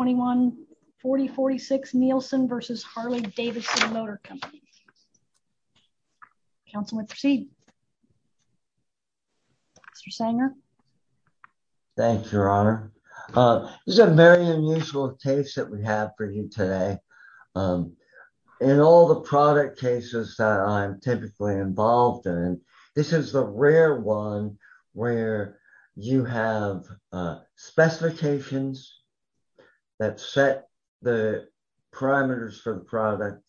21-4046 Nielson v. Harley-Davidson Motor Company Councilman Proceed Mr. Sanger Thank you your honor. This is a very unusual case that we have for you today. In all the product cases that I'm typically involved in, this is the rare one where you have specifications that set the parameters for the product,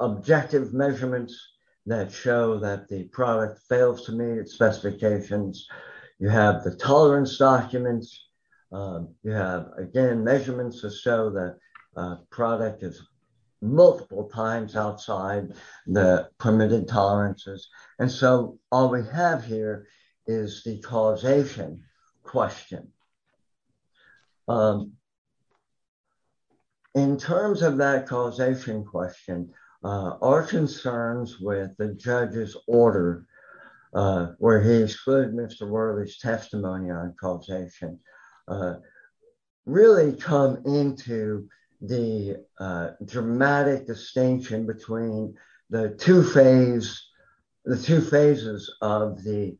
objective measurements that show that the product fails to meet its specifications, you have the tolerance documents, you have again measurements to show that product is question. In terms of that causation question, our concerns with the judge's order where he excluded Mr. Worley's testimony on causation really come into the dramatic distinction between the two phases of the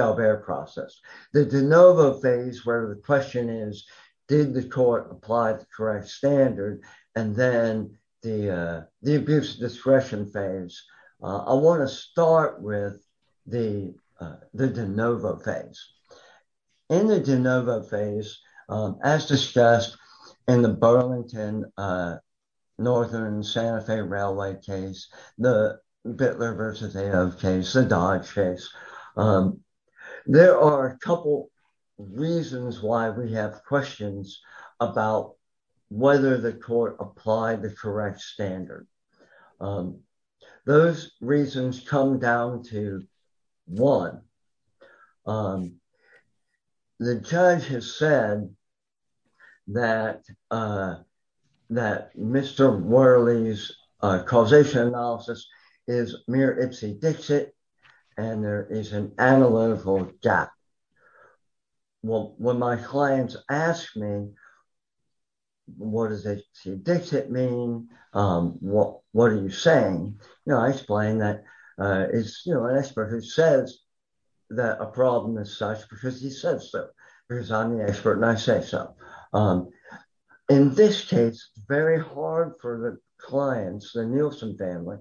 Daubert process. The de novo phase where the question is did the court apply the correct standard and then the abuse discretion phase. I want to start with the de novo phase. In the de novo phase, as discussed in the Burlington Northern Santa Fe Railway case, the Bittler v. Aove case, the Dodge case, there are a couple reasons why we have questions about whether the court applied the correct standard. Those reasons come down to one. The judge has said that Mr. Worley's causation analysis is mere ipsy-dixit and there is an analytical gap. Well, when my clients ask me what does ipsy-dixit mean, what are you saying, I explain that it's an expert who says that a problem is such because he says so because I'm the expert and I say so. In this case, it's very hard for the clients, the Nielsen family,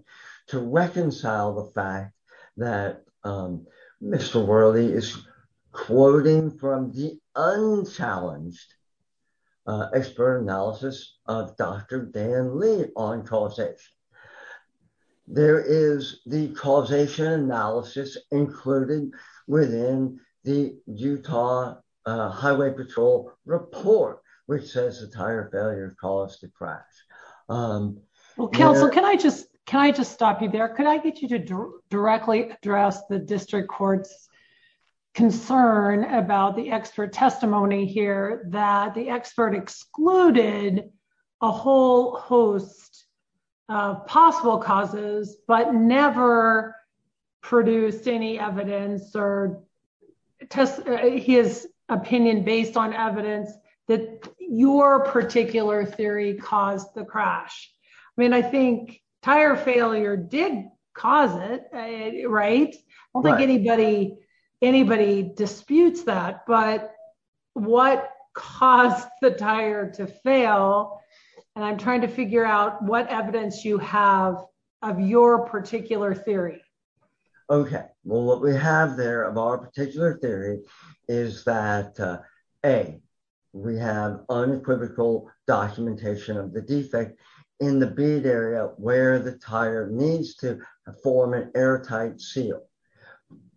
to reconcile the fact that Mr. Worley is quoting from the unchallenged expert analysis of Dr. Dan Lee on causation. There is the causation analysis included within the Utah Highway Patrol report which says the tire failure caused the crash. Well, counsel, can I just stop you there? Could I get you to directly address the district court's concern about the expert testimony here that the expert excluded a whole host of possible causes but never produced any evidence or his opinion based on evidence that your particular theory caused the crash? I think tire failure did cause it right? I don't think anybody disputes that but what caused the tire to fail and I'm trying to figure out what evidence you have of your particular theory. Okay, well what we have there of our particular theory is that A, we have unequivocal documentation of the defect in the bead area where the tire needs to form an airtight seal.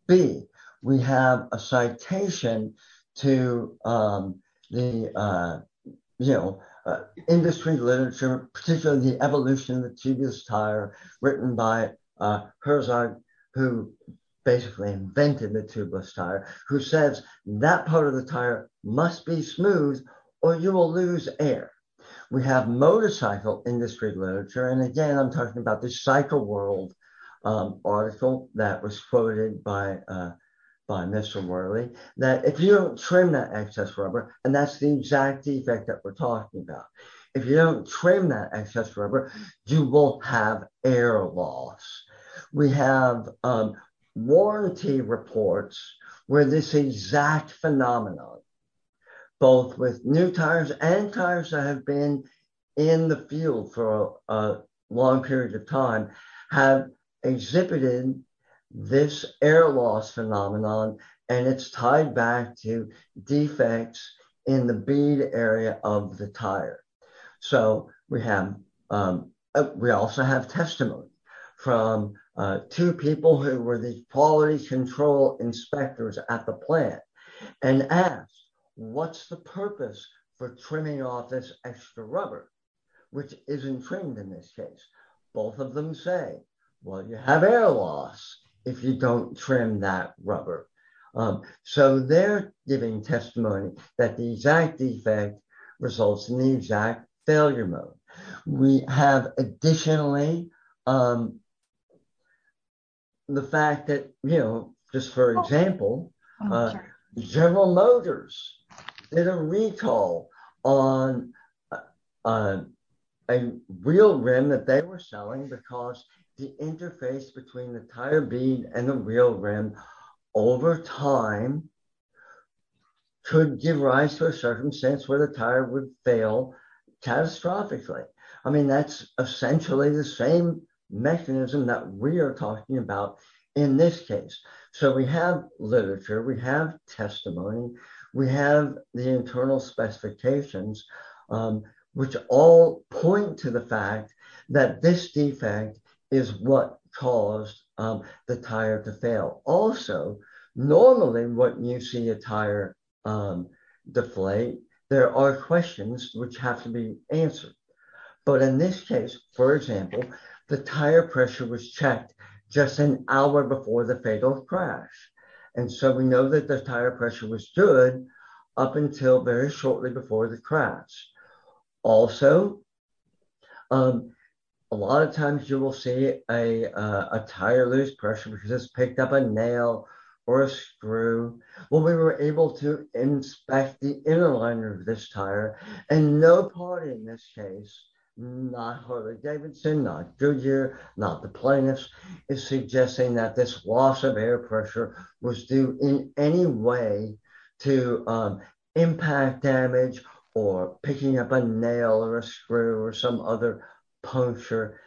B, we have a citation to the industry literature, particularly the evolution of the tubeless tire written by Herzog who basically invented the tubeless tire who says that part of the tire must be smooth or you will lose air. We have motorcycle industry literature and again I'm talking about the Cycle World article that was quoted by Mr. Worley that if you don't trim that excess rubber and that's the exact defect that we're talking about. If you don't trim that excess rubber you will have air loss. We have warranty reports where this exact phenomenon both with new tires and tires that have been in the field for a long period of time have exhibited this air loss phenomenon and it's tied back to defects in the bead area of the tire. So we have, we also have testimony from two people who were the quality control inspectors at the plant and asked what's the purpose for trimming off this extra rubber which isn't trimmed in this case. Both of them say well you have air loss if you don't trim that rubber. So they're giving testimony that the exact defect results in the exact failure mode. We have additionally the fact that you know just for example General Motors did a recall on a real rim that they were selling because the interface between the tire bead and the real rim over time could give rise to a circumstance where the tire would fail catastrophically. I mean that's essentially the same mechanism that we are talking about in this case. So we have literature, we have testimony, we have the internal specifications which all point to the fact that this defect is what caused the tire to fail. Also normally when you see a tire deflate there are questions which have to be answered. But in this case for example the tire pressure was checked just an hour before the fatal crash and so we know that the tire pressure was good up until very shortly before the crash. Also a lot of times you will see a tire lose pressure because it's picked up a nail or a screw. Well we were able to inspect the inner liner of this tire and no party in this case, not Harley-Davidson, not Goodyear, not the plaintiffs is suggesting that this loss of air pressure was due in any way to impact damage or picking up a nail or a screw or some other puncture.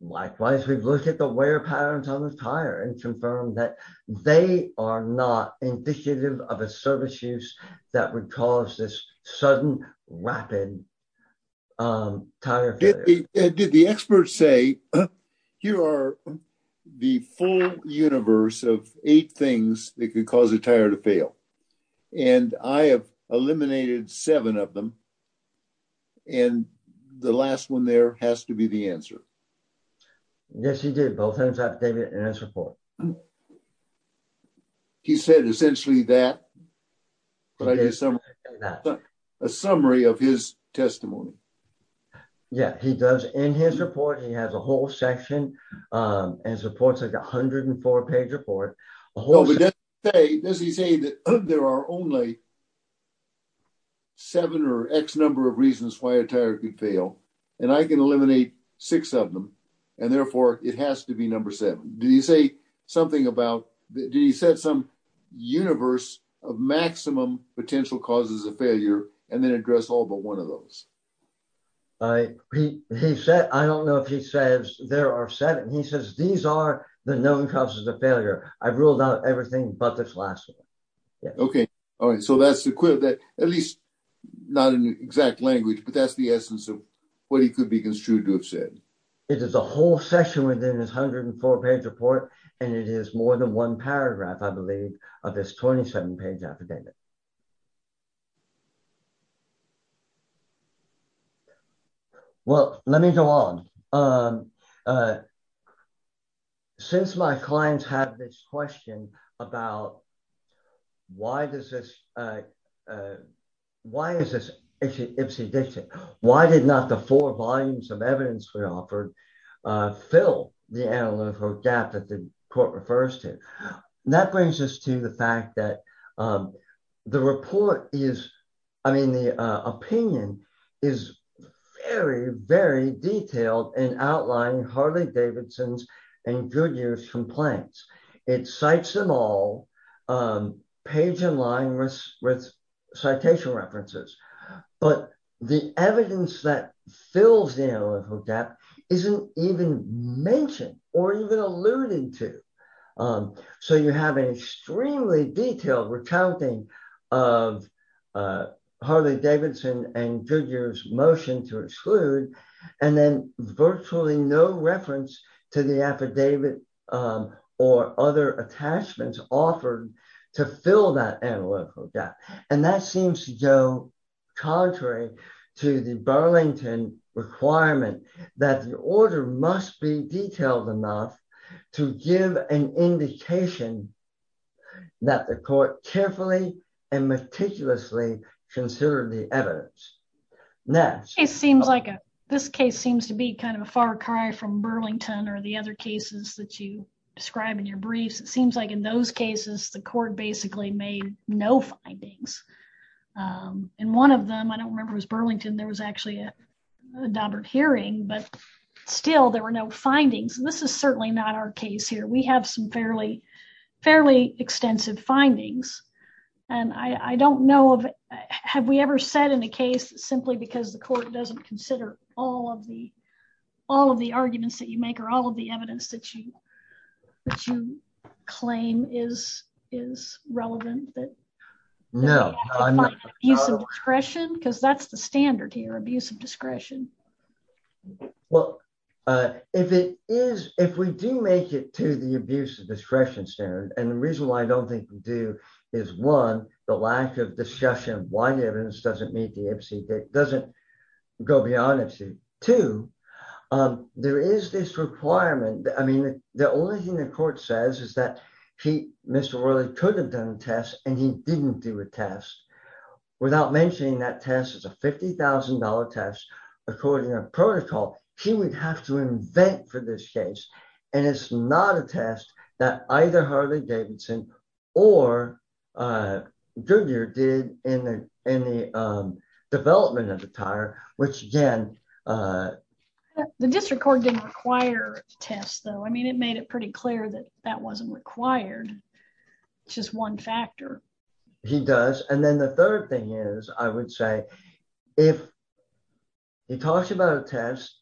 Likewise we've looked at the wear patterns on the tire and confirmed that they are not indicative of a service use that would cause this sudden rapid tire failure. Did the experts say here are the full universe of eight things that could cause a tire to fail and I have eliminated seven of them and the last one there has to be the answer? Yes he did both in his affidavit and his report. He said essentially that but I did some a summary of his testimony. Yeah he does in his report he has a whole section and supports like 104 page report. Does he say that there are only seven or x number of reasons why a tire could fail and I can eliminate six of them and therefore it has to be number seven. Did he say something about, did he set some universe of maximum potential causes of failure and then address all but one of those? He said I don't know if he says there are seven. He says these are the known causes of failure. I've ruled out everything but this last one. Okay all right so that's the quote that at least not in exact language but that's the essence of what he could be construed to have said. It is a whole session within his 104 page report and it is more than one paragraph I believe of this 27 page affidavit. Yeah well let me go on. Since my clients have this question about why does this, why is this Ipsy Dixit? Why did not the four volumes of evidence we offered fill the analytical gap that the court refers to? That brings us to the fact that the report is, I mean the opinion is very very detailed in outlining Harley-Davidson's and Goodyear's complaints. It cites them all page in line with citation references but the evidence that fills the analytical gap isn't even mentioned or even alluded to. So you have an extremely detailed recounting of Harley-Davidson and Goodyear's motion to exclude and then virtually no reference to the affidavit or other attachments offered to fill that analytical gap and that seems to go contrary to the Burlington requirement that the order must be detailed enough to give an indication that the court carefully and meticulously considered the evidence. It seems like this case seems to be kind of a far cry from Burlington or the other cases that you describe in your briefs. It seems like in those cases the court basically made no findings and one of them I don't remember was Burlington there was actually a hearing but still there were no findings. This is certainly not our case here. We have some fairly extensive findings and I don't know, have we ever said in a case simply because the court doesn't consider all of the arguments that you make or all of the evidence that you claim is relevant? No, I'm not. Use of discretion because that's the standard here, abuse of discretion. Well, if it is, if we do make it to the abuse of discretion standard and the reason why I don't think we do is one, the lack of discussion of why the evidence doesn't meet the FC, doesn't go beyond FC. Two, there is this requirement, I mean the only thing the court says is that he, Mr. Worley could have done a test and he didn't do a test without mentioning that test is a $50,000 test. According to protocol, he would have to invent for this case and it's not a test that either Harley-Davidson or Goodyear did in the development of the tire which again, the district court didn't require tests though. I mean it made it pretty clear that that wasn't required. It's just one factor. He does and then the third thing is I would say if he talks about a test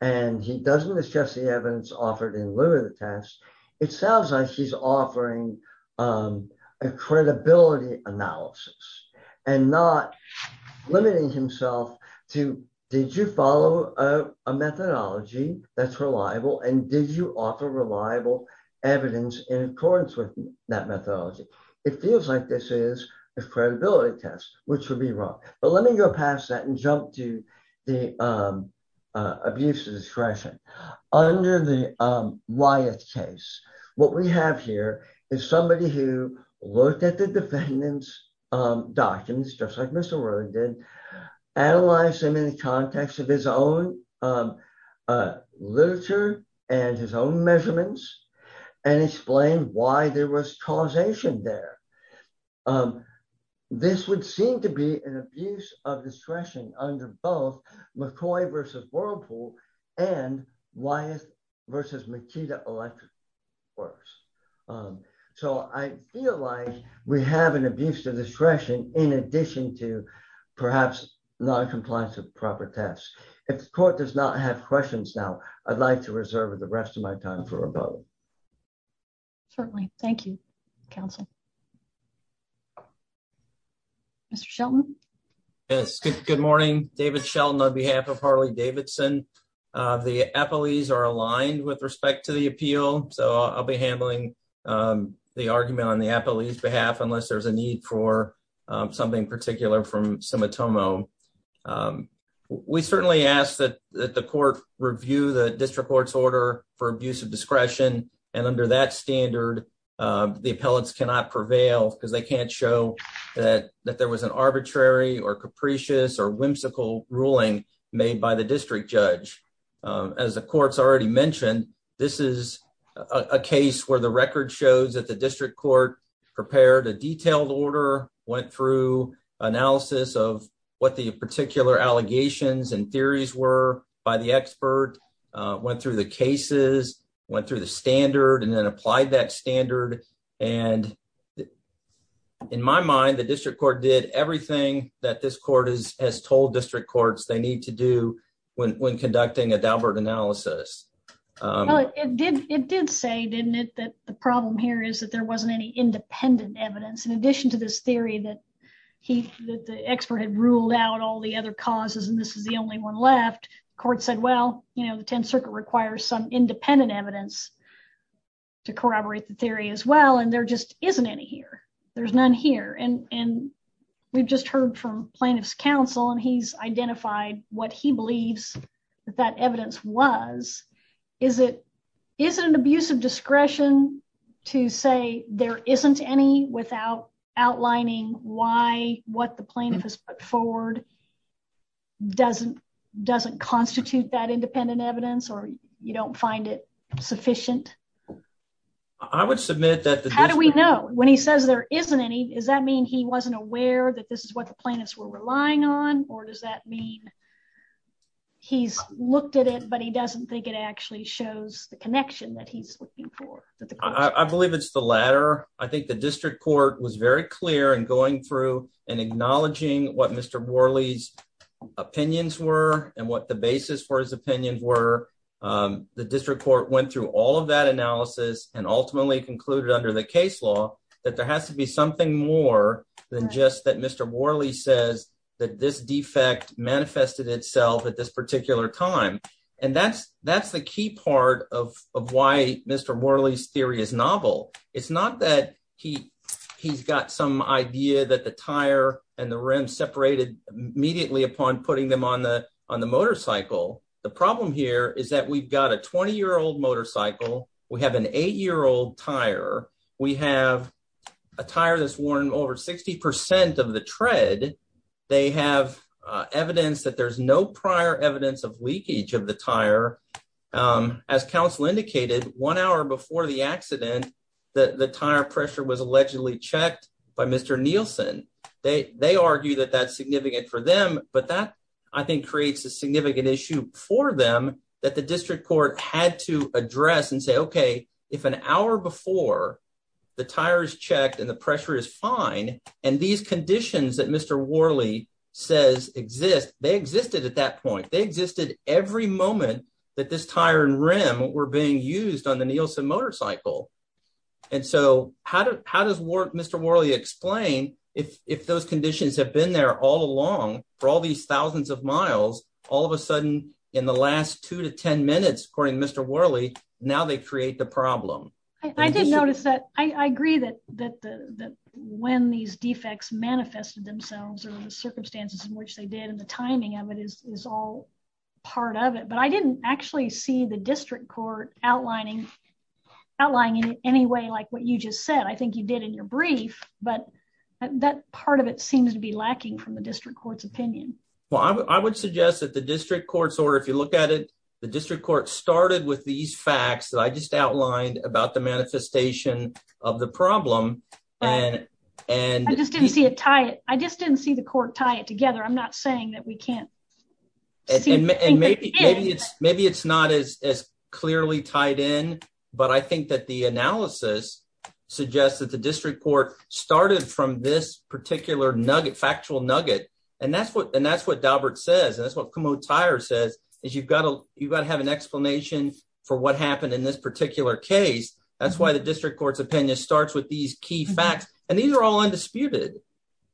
and he doesn't discuss the evidence offered in lieu of the test, it sounds like he's offering a credibility analysis and not limiting himself to did you follow a methodology that's reliable and did you offer reliable evidence in accordance with that methodology. It feels like this is a credibility test which would be wrong but let me go past that and jump to the abuse of discretion. Under the Wyeth case, what we have here is somebody who looked at the defendant's documents just like Mr. Worley did, analyzed them in the context of his own literature and his own measurements and explained why there was causation there. This would seem to be an abuse of discretion under both McCoy versus Whirlpool and Wyeth versus Makita Electric Works. So I feel like we have an abuse of discretion in addition to perhaps not a compliance of proper tests. If the court does not have questions now, I'd like to reserve the rest of my time for a vote. Certainly. Thank you, counsel. Mr. Shelton? Yes, good morning. David Shelton on behalf of Harley Davidson. The appellees are aligned with respect to the appeal so I'll be handling the argument on the appellee's behalf unless there's a need for something particular from Simitomo. We certainly ask that the court review the district court's order for abuse of discretion and under that standard the appellants cannot prevail because they can't show that there was an arbitrary or capricious or whimsical ruling made by the district judge. As the court's already mentioned, this is a case where the record shows that the district court prepared a detailed order, went through analysis of what the particular allegations and theories were by the expert, went through the cases, went through the standard, and then applied that standard. In my mind, the district court did everything that this court has told district courts they need to do when conducting a Daubert analysis. It did say, didn't it, that the problem here is there wasn't any independent evidence. In addition to this theory that the expert had ruled out all the other causes and this is the only one left, the court said, well, you know, the Tenth Circuit requires some independent evidence to corroborate the theory as well and there just isn't any here. There's none here and we've just heard from plaintiff's counsel and he's identified what he believes that evidence was. Is it an abuse of discretion to say there isn't any without outlining why what the plaintiff has put forward doesn't constitute that independent evidence or you don't find it sufficient? I would submit that... How do we know? When he says there isn't any, does that mean he wasn't aware that this is what the plaintiffs were relying on or does that mean he's looked at it but he doesn't think it actually shows the connection that he's looking for? I believe it's the latter. I think the district court was very clear in going through and acknowledging what Mr. Worley's opinions were and what the basis for his opinions were. The district court went through all of that analysis and ultimately concluded under the case law that there has to be something more than just that Mr. Worley says that this defect manifested itself at this particular time and that's the key part of why Mr. Worley's theory is novel. It's not that he's got some idea that the tire and the rim separated immediately upon putting them on the motorcycle. The problem here is that we've got a 20-year-old motorcycle, we have an eight-year-old tire, we have a tire that's worn over 60% of the tread. They have evidence that there's no prior evidence of leakage of the tire. As counsel indicated, one hour before the accident, the tire pressure was allegedly checked by Mr. Nielsen. They argue that that's significant for them but that, I think, creates a significant issue for them that the district court had to address and say, okay, if an hour before the tire is checked and the pressure is fine and these conditions that Mr. Worley says exist, they existed at that point. They existed every moment that this tire and rim were being used on the Nielsen motorcycle. How does Mr. Worley explain if those conditions have been there all along, for all these thousands of miles, all of a sudden in the last two to ten minutes, according to Mr. Worley, now they create the problem? I did notice that I agree that when these defects manifested themselves or the circumstances in which they did and the timing of it is all part of it but I didn't actually see the district court outlining in any way like what you just said. I think you did in your brief but that part of it seems to be lacking from district court's opinion. I would suggest that the district court's order, if you look at it, the district court started with these facts that I just outlined about the manifestation of the problem. I just didn't see it tie it. I just didn't see the court tie it together. I'm not saying that we can't. Maybe it's not as clearly tied in but I think that the analysis suggests that the district court started from this particular nugget, factual nugget, and that's what and that's what Daubert says. That's what Comeau Tire says is you've got to you've got to have an explanation for what happened in this particular case. That's why the district court's opinion starts with these key facts and these are all undisputed.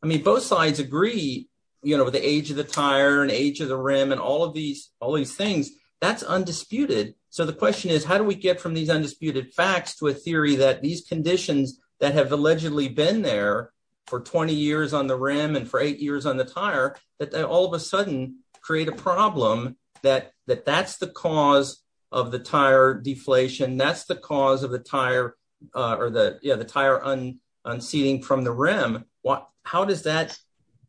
I mean both sides agree, you know, with the age of the tire and age of the rim and all of these all these things, that's undisputed. So the question is how do we get from these undisputed facts to a theory that these conditions that have allegedly been there for 20 years on the rim and for eight years on the tire that all of a sudden create a problem that that's the cause of the tire deflation. That's the cause of the tire or the tire unseating from the rim. How does that,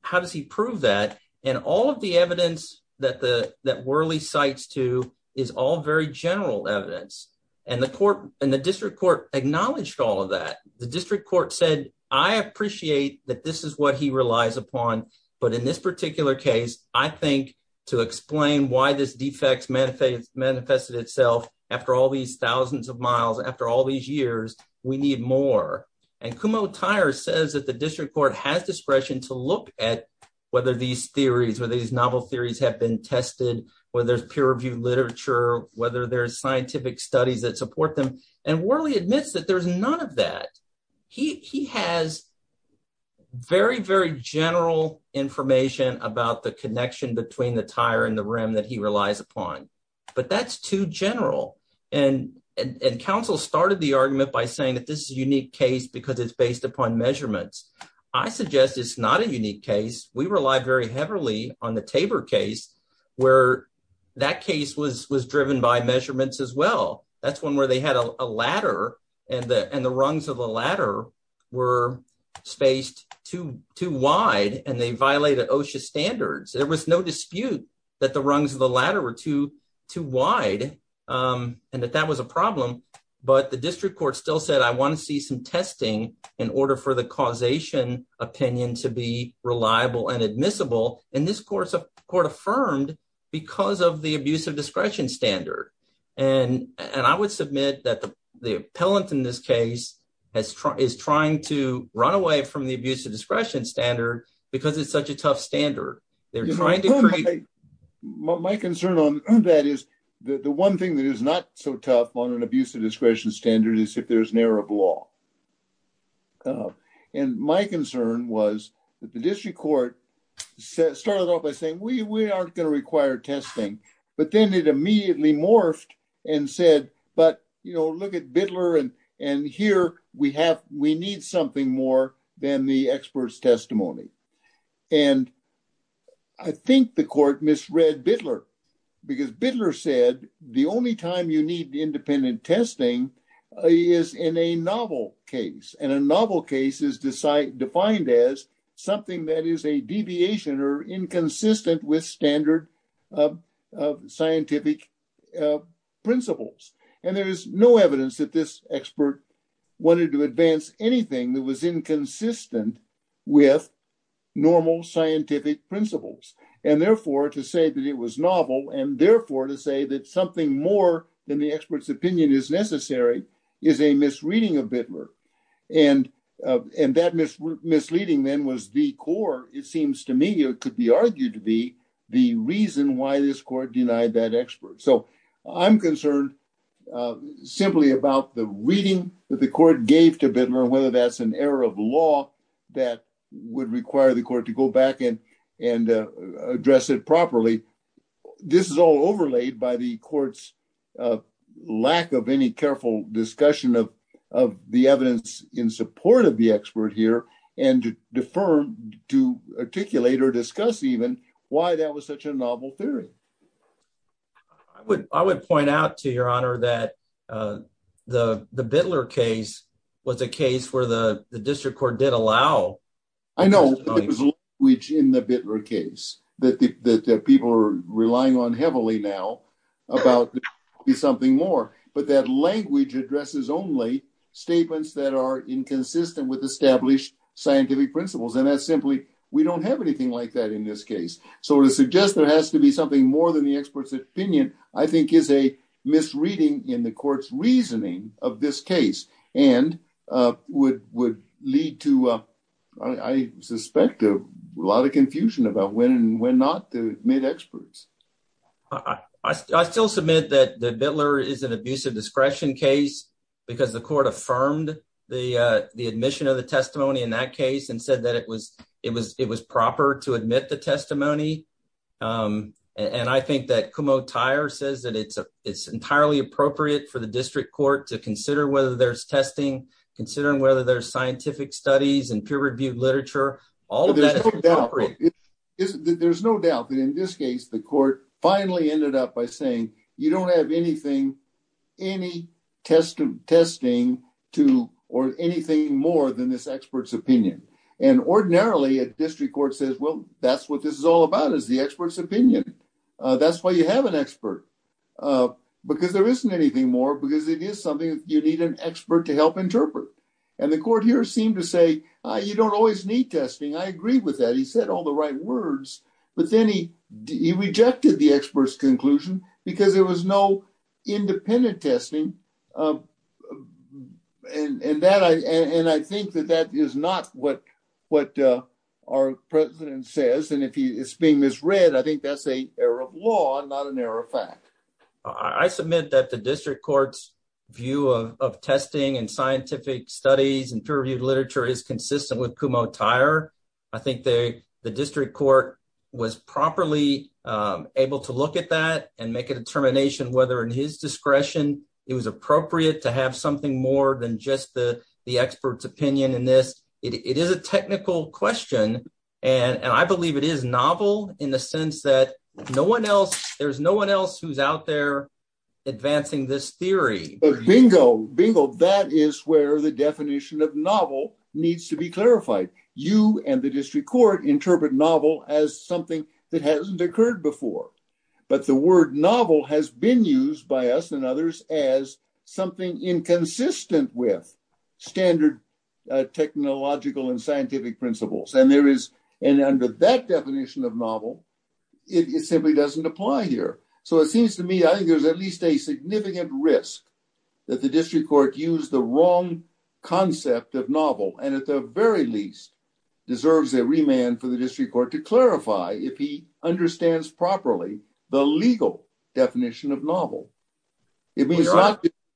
how does he prove that? And all of the evidence that the that Worley cites too is all very general evidence and the court and the district court acknowledged all of that. The district court said I appreciate that this is what he relies upon but in this particular case I think to explain why this defects manifested itself after all these thousands of miles, after all these years, we need more. And Comeau Tire says that the district court has discretion to look at whether these theories, whether these novel theories have been tested, whether there's peer-reviewed whether there's scientific studies that support them and Worley admits that there's none of that. He has very very general information about the connection between the tire and the rim that he relies upon but that's too general and and counsel started the argument by saying that this is a unique case because it's based upon measurements. I suggest it's not a unique case. We rely very much on the theory that the tire was driven by measurements as well. That's one where they had a ladder and the and the rungs of the ladder were spaced too too wide and they violated OSHA standards. There was no dispute that the rungs of the ladder were too too wide and that that was a problem but the district court still said I want to see some testing in order for the causation opinion to be reliable and admissible and this course of court affirmed because of the abuse of discretion standard and and I would submit that the the appellant in this case has tried is trying to run away from the abuse of discretion standard because it's such a tough standard they're trying to create my concern on that is the one thing that is not so tough on an abuse of discretion standard is if there's an error of law and my concern was that the district court started off by saying we we aren't going to require testing but then it immediately morphed and said but you know look at Bidler and and here we have we need something more than the expert's testimony and I think the court misread Bidler because Bidler said the only time you need independent testing is in a novel case and a novel case is decide defined as something that is a deviation or inconsistent with standard of scientific principles and there is no evidence that this expert wanted to advance anything that was inconsistent with normal scientific principles and therefore to say that it was novel and therefore to say that something more than the expert's opinion is necessary is a misreading of Bidler and and that mis misleading then was the core it seems to me it could be argued to be the reason why this court denied that expert so I'm concerned simply about the reading that the court gave to Bidler whether that's an error of law that would require the court to go back in and address it properly this is all overlaid by the court's lack of any careful discussion of of the evidence in support of the expert here and to defer to articulate or discuss even why that was such a novel theory I would I would point out to your honor that uh the the Bidler case was a case where the the district court did allow I know there's language in the Bidler case that the that people are relying on heavily now about be something more but that language addresses only statements that are inconsistent with established scientific principles and that's simply we don't have anything like that in this case so to suggest there has to be something more than the expert's opinion I think is a misreading in the court's reasoning of this case and uh would would lead to uh I suspect a lot of confusion about when and when not to admit experts I still submit that the Bidler is an abusive discretion case because the court affirmed the uh the testimony in that case and said that it was it was it was proper to admit the testimony um and I think that Kumo Tyre says that it's a it's entirely appropriate for the district court to consider whether there's testing considering whether there's scientific studies and peer reviewed literature all of that there's no doubt that in this case the court finally ended up by you don't have anything any testing testing to or anything more than this expert's opinion and ordinarily a district court says well that's what this is all about is the expert's opinion that's why you have an expert because there isn't anything more because it is something you need an expert to help interpret and the court here seemed to say you don't always need testing I agree with that he said all the right words but then he he rejected the expert's because there was no independent testing um and and that I and I think that that is not what what uh our president says and if he is being misread I think that's a error of law not an error of fact I submit that the district court's view of testing and scientific studies and peer reviewed literature is consistent with Kumo Tyre I think they the district court was properly um and make a determination whether in his discretion it was appropriate to have something more than just the the expert's opinion in this it is a technical question and and I believe it is novel in the sense that no one else there's no one else who's out there advancing this theory bingo bingo that is where the definition of novel needs to be clarified you and the district court interpret novel as something that hasn't occurred before but the word novel has been used by us and others as something inconsistent with standard technological and scientific principles and there is and under that definition of novel it simply doesn't apply here so it seems to me I think there's at least a significant risk that the district court used the wrong concept of novel and at the very least deserves a remand for the district court to clarify if he understands properly the legal definition of novel it means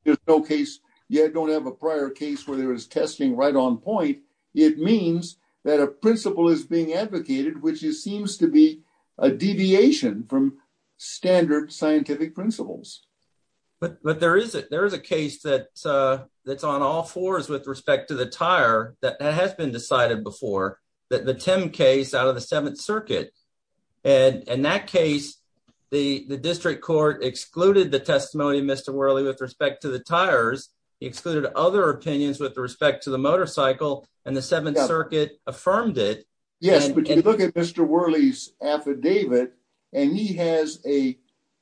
there's no case you don't have a prior case where there is testing right on point it means that a principle is being advocated which seems to be a deviation from standard scientific principles but but there is it there is a case that uh all fours with respect to the tire that has been decided before that the tim case out of the seventh circuit and in that case the the district court excluded the testimony of mr whirly with respect to the tires he excluded other opinions with respect to the motorcycle and the seventh circuit affirmed it yes but you look at mr whirly's affidavit and he has a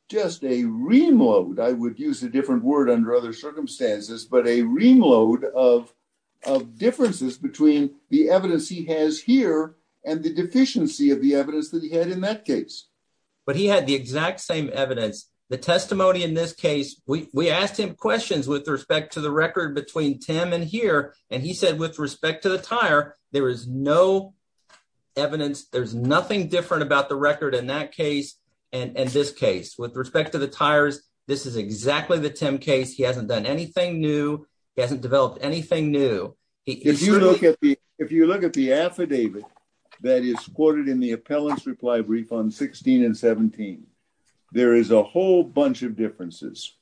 just a remote I would use a different word under other circumstances but a ring load of of differences between the evidence he has here and the deficiency of the evidence that he had in that case but he had the exact same evidence the testimony in this case we we asked him questions with respect to the record between tim and here and he said with respect to the tire there is no evidence there's nothing different about the record in that case and in this case with respect to the tires this is exactly the tim case he hasn't done anything new he hasn't developed anything new if you look at the if you look at the affidavit that is quoted in the appellant's reply brief on 16 and 17 there is a whole bunch of differences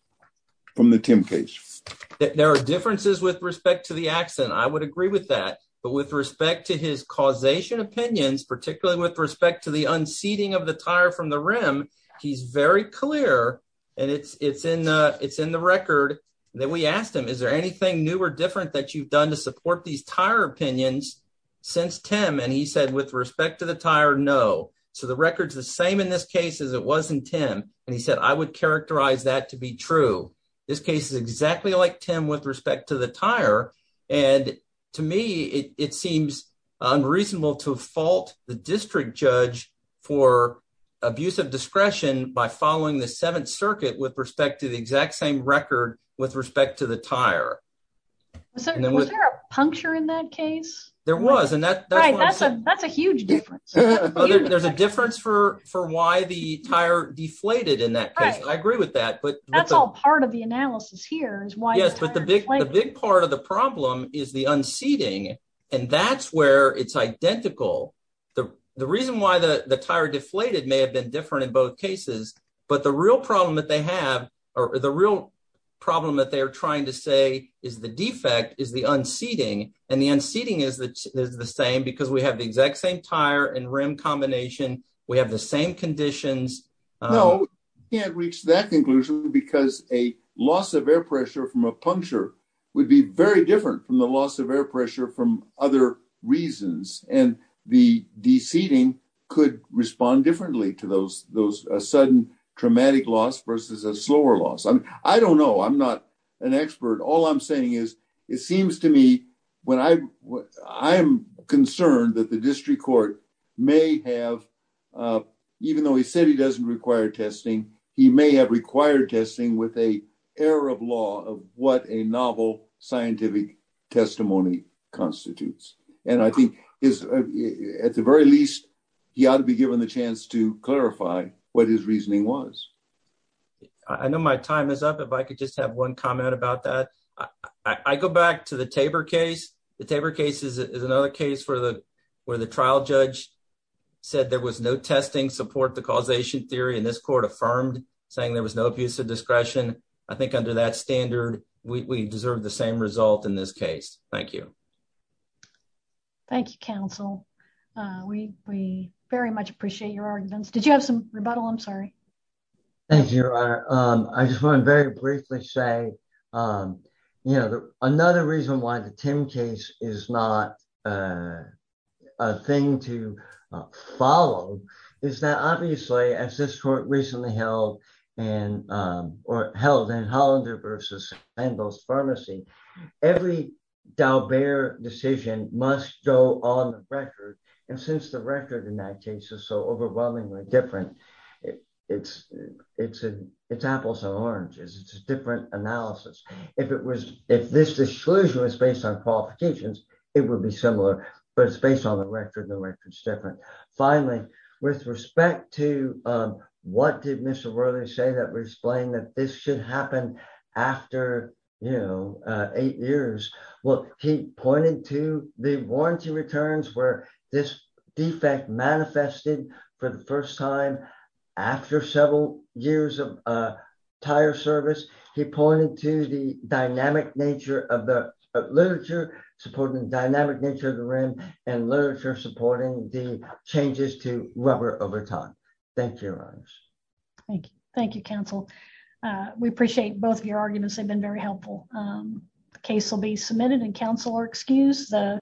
from the tim case there are differences with respect to the accident i would agree with that but with respect to his causation opinions particularly with respect to the unseating of the tire from the rim he's very clear and it's it's in uh it's in the record that we asked him is there anything new or different that you've done to support these tire opinions since tim and he said with respect to the tire no so the record's the same in this case as it was in tim and he said i would characterize that to be true this case is for abuse of discretion by following the seventh circuit with respect to the exact same record with respect to the tire so was there a puncture in that case there was and that's right that's a that's a huge difference there's a difference for for why the tire deflated in that case i agree with that but that's all part of the analysis here is why yes but the big the big part of the reason why the the tire deflated may have been different in both cases but the real problem that they have or the real problem that they are trying to say is the defect is the unseating and the unseating is that is the same because we have the exact same tire and rim combination we have the same conditions no we can't reach that conclusion because a loss of air pressure from a puncture would be very different from the loss of air pressure from other reasons and the seating could respond differently to those those sudden traumatic loss versus a slower loss i mean i don't know i'm not an expert all i'm saying is it seems to me when i what i am concerned that the district court may have uh even though he said he doesn't require testing he may have required testing with a error of law of what a novel scientific testimony constitutes and i think is at the very least he ought to be given the chance to clarify what his reasoning was i know my time is up if i could just have one comment about that i i go back to the taber case the taber case is another case for the where the trial judge said there was no testing support the causation theory and this court affirmed saying there was no abusive discretion i think under that standard we deserve the same result in this case thank you thank you counsel uh we we very much appreciate your arguments did you have some rebuttal i'm sorry thank you your honor um i just want to very briefly say um you know another reason why the tim case is not a thing to follow is that obviously as this court recently held and um or held and hollander versus and those pharmacy every d'albert decision must go on the record and since the record in that case is so overwhelmingly different it's it's a it's apples and oranges it's a different analysis if it was if this disclosure was based on qualifications it would be similar but it's with respect to um what did mr worthy say that we explained that this should happen after you know eight years well he pointed to the warranty returns where this defect manifested for the first time after several years of uh tire service he pointed to the dynamic nature of the literature supporting the dynamic nature of the room and literature supporting the changes to rubber over time thank you your honors thank you thank you counsel uh we appreciate both of your arguments they've been very helpful um the case will be submitted and counsel or excuse the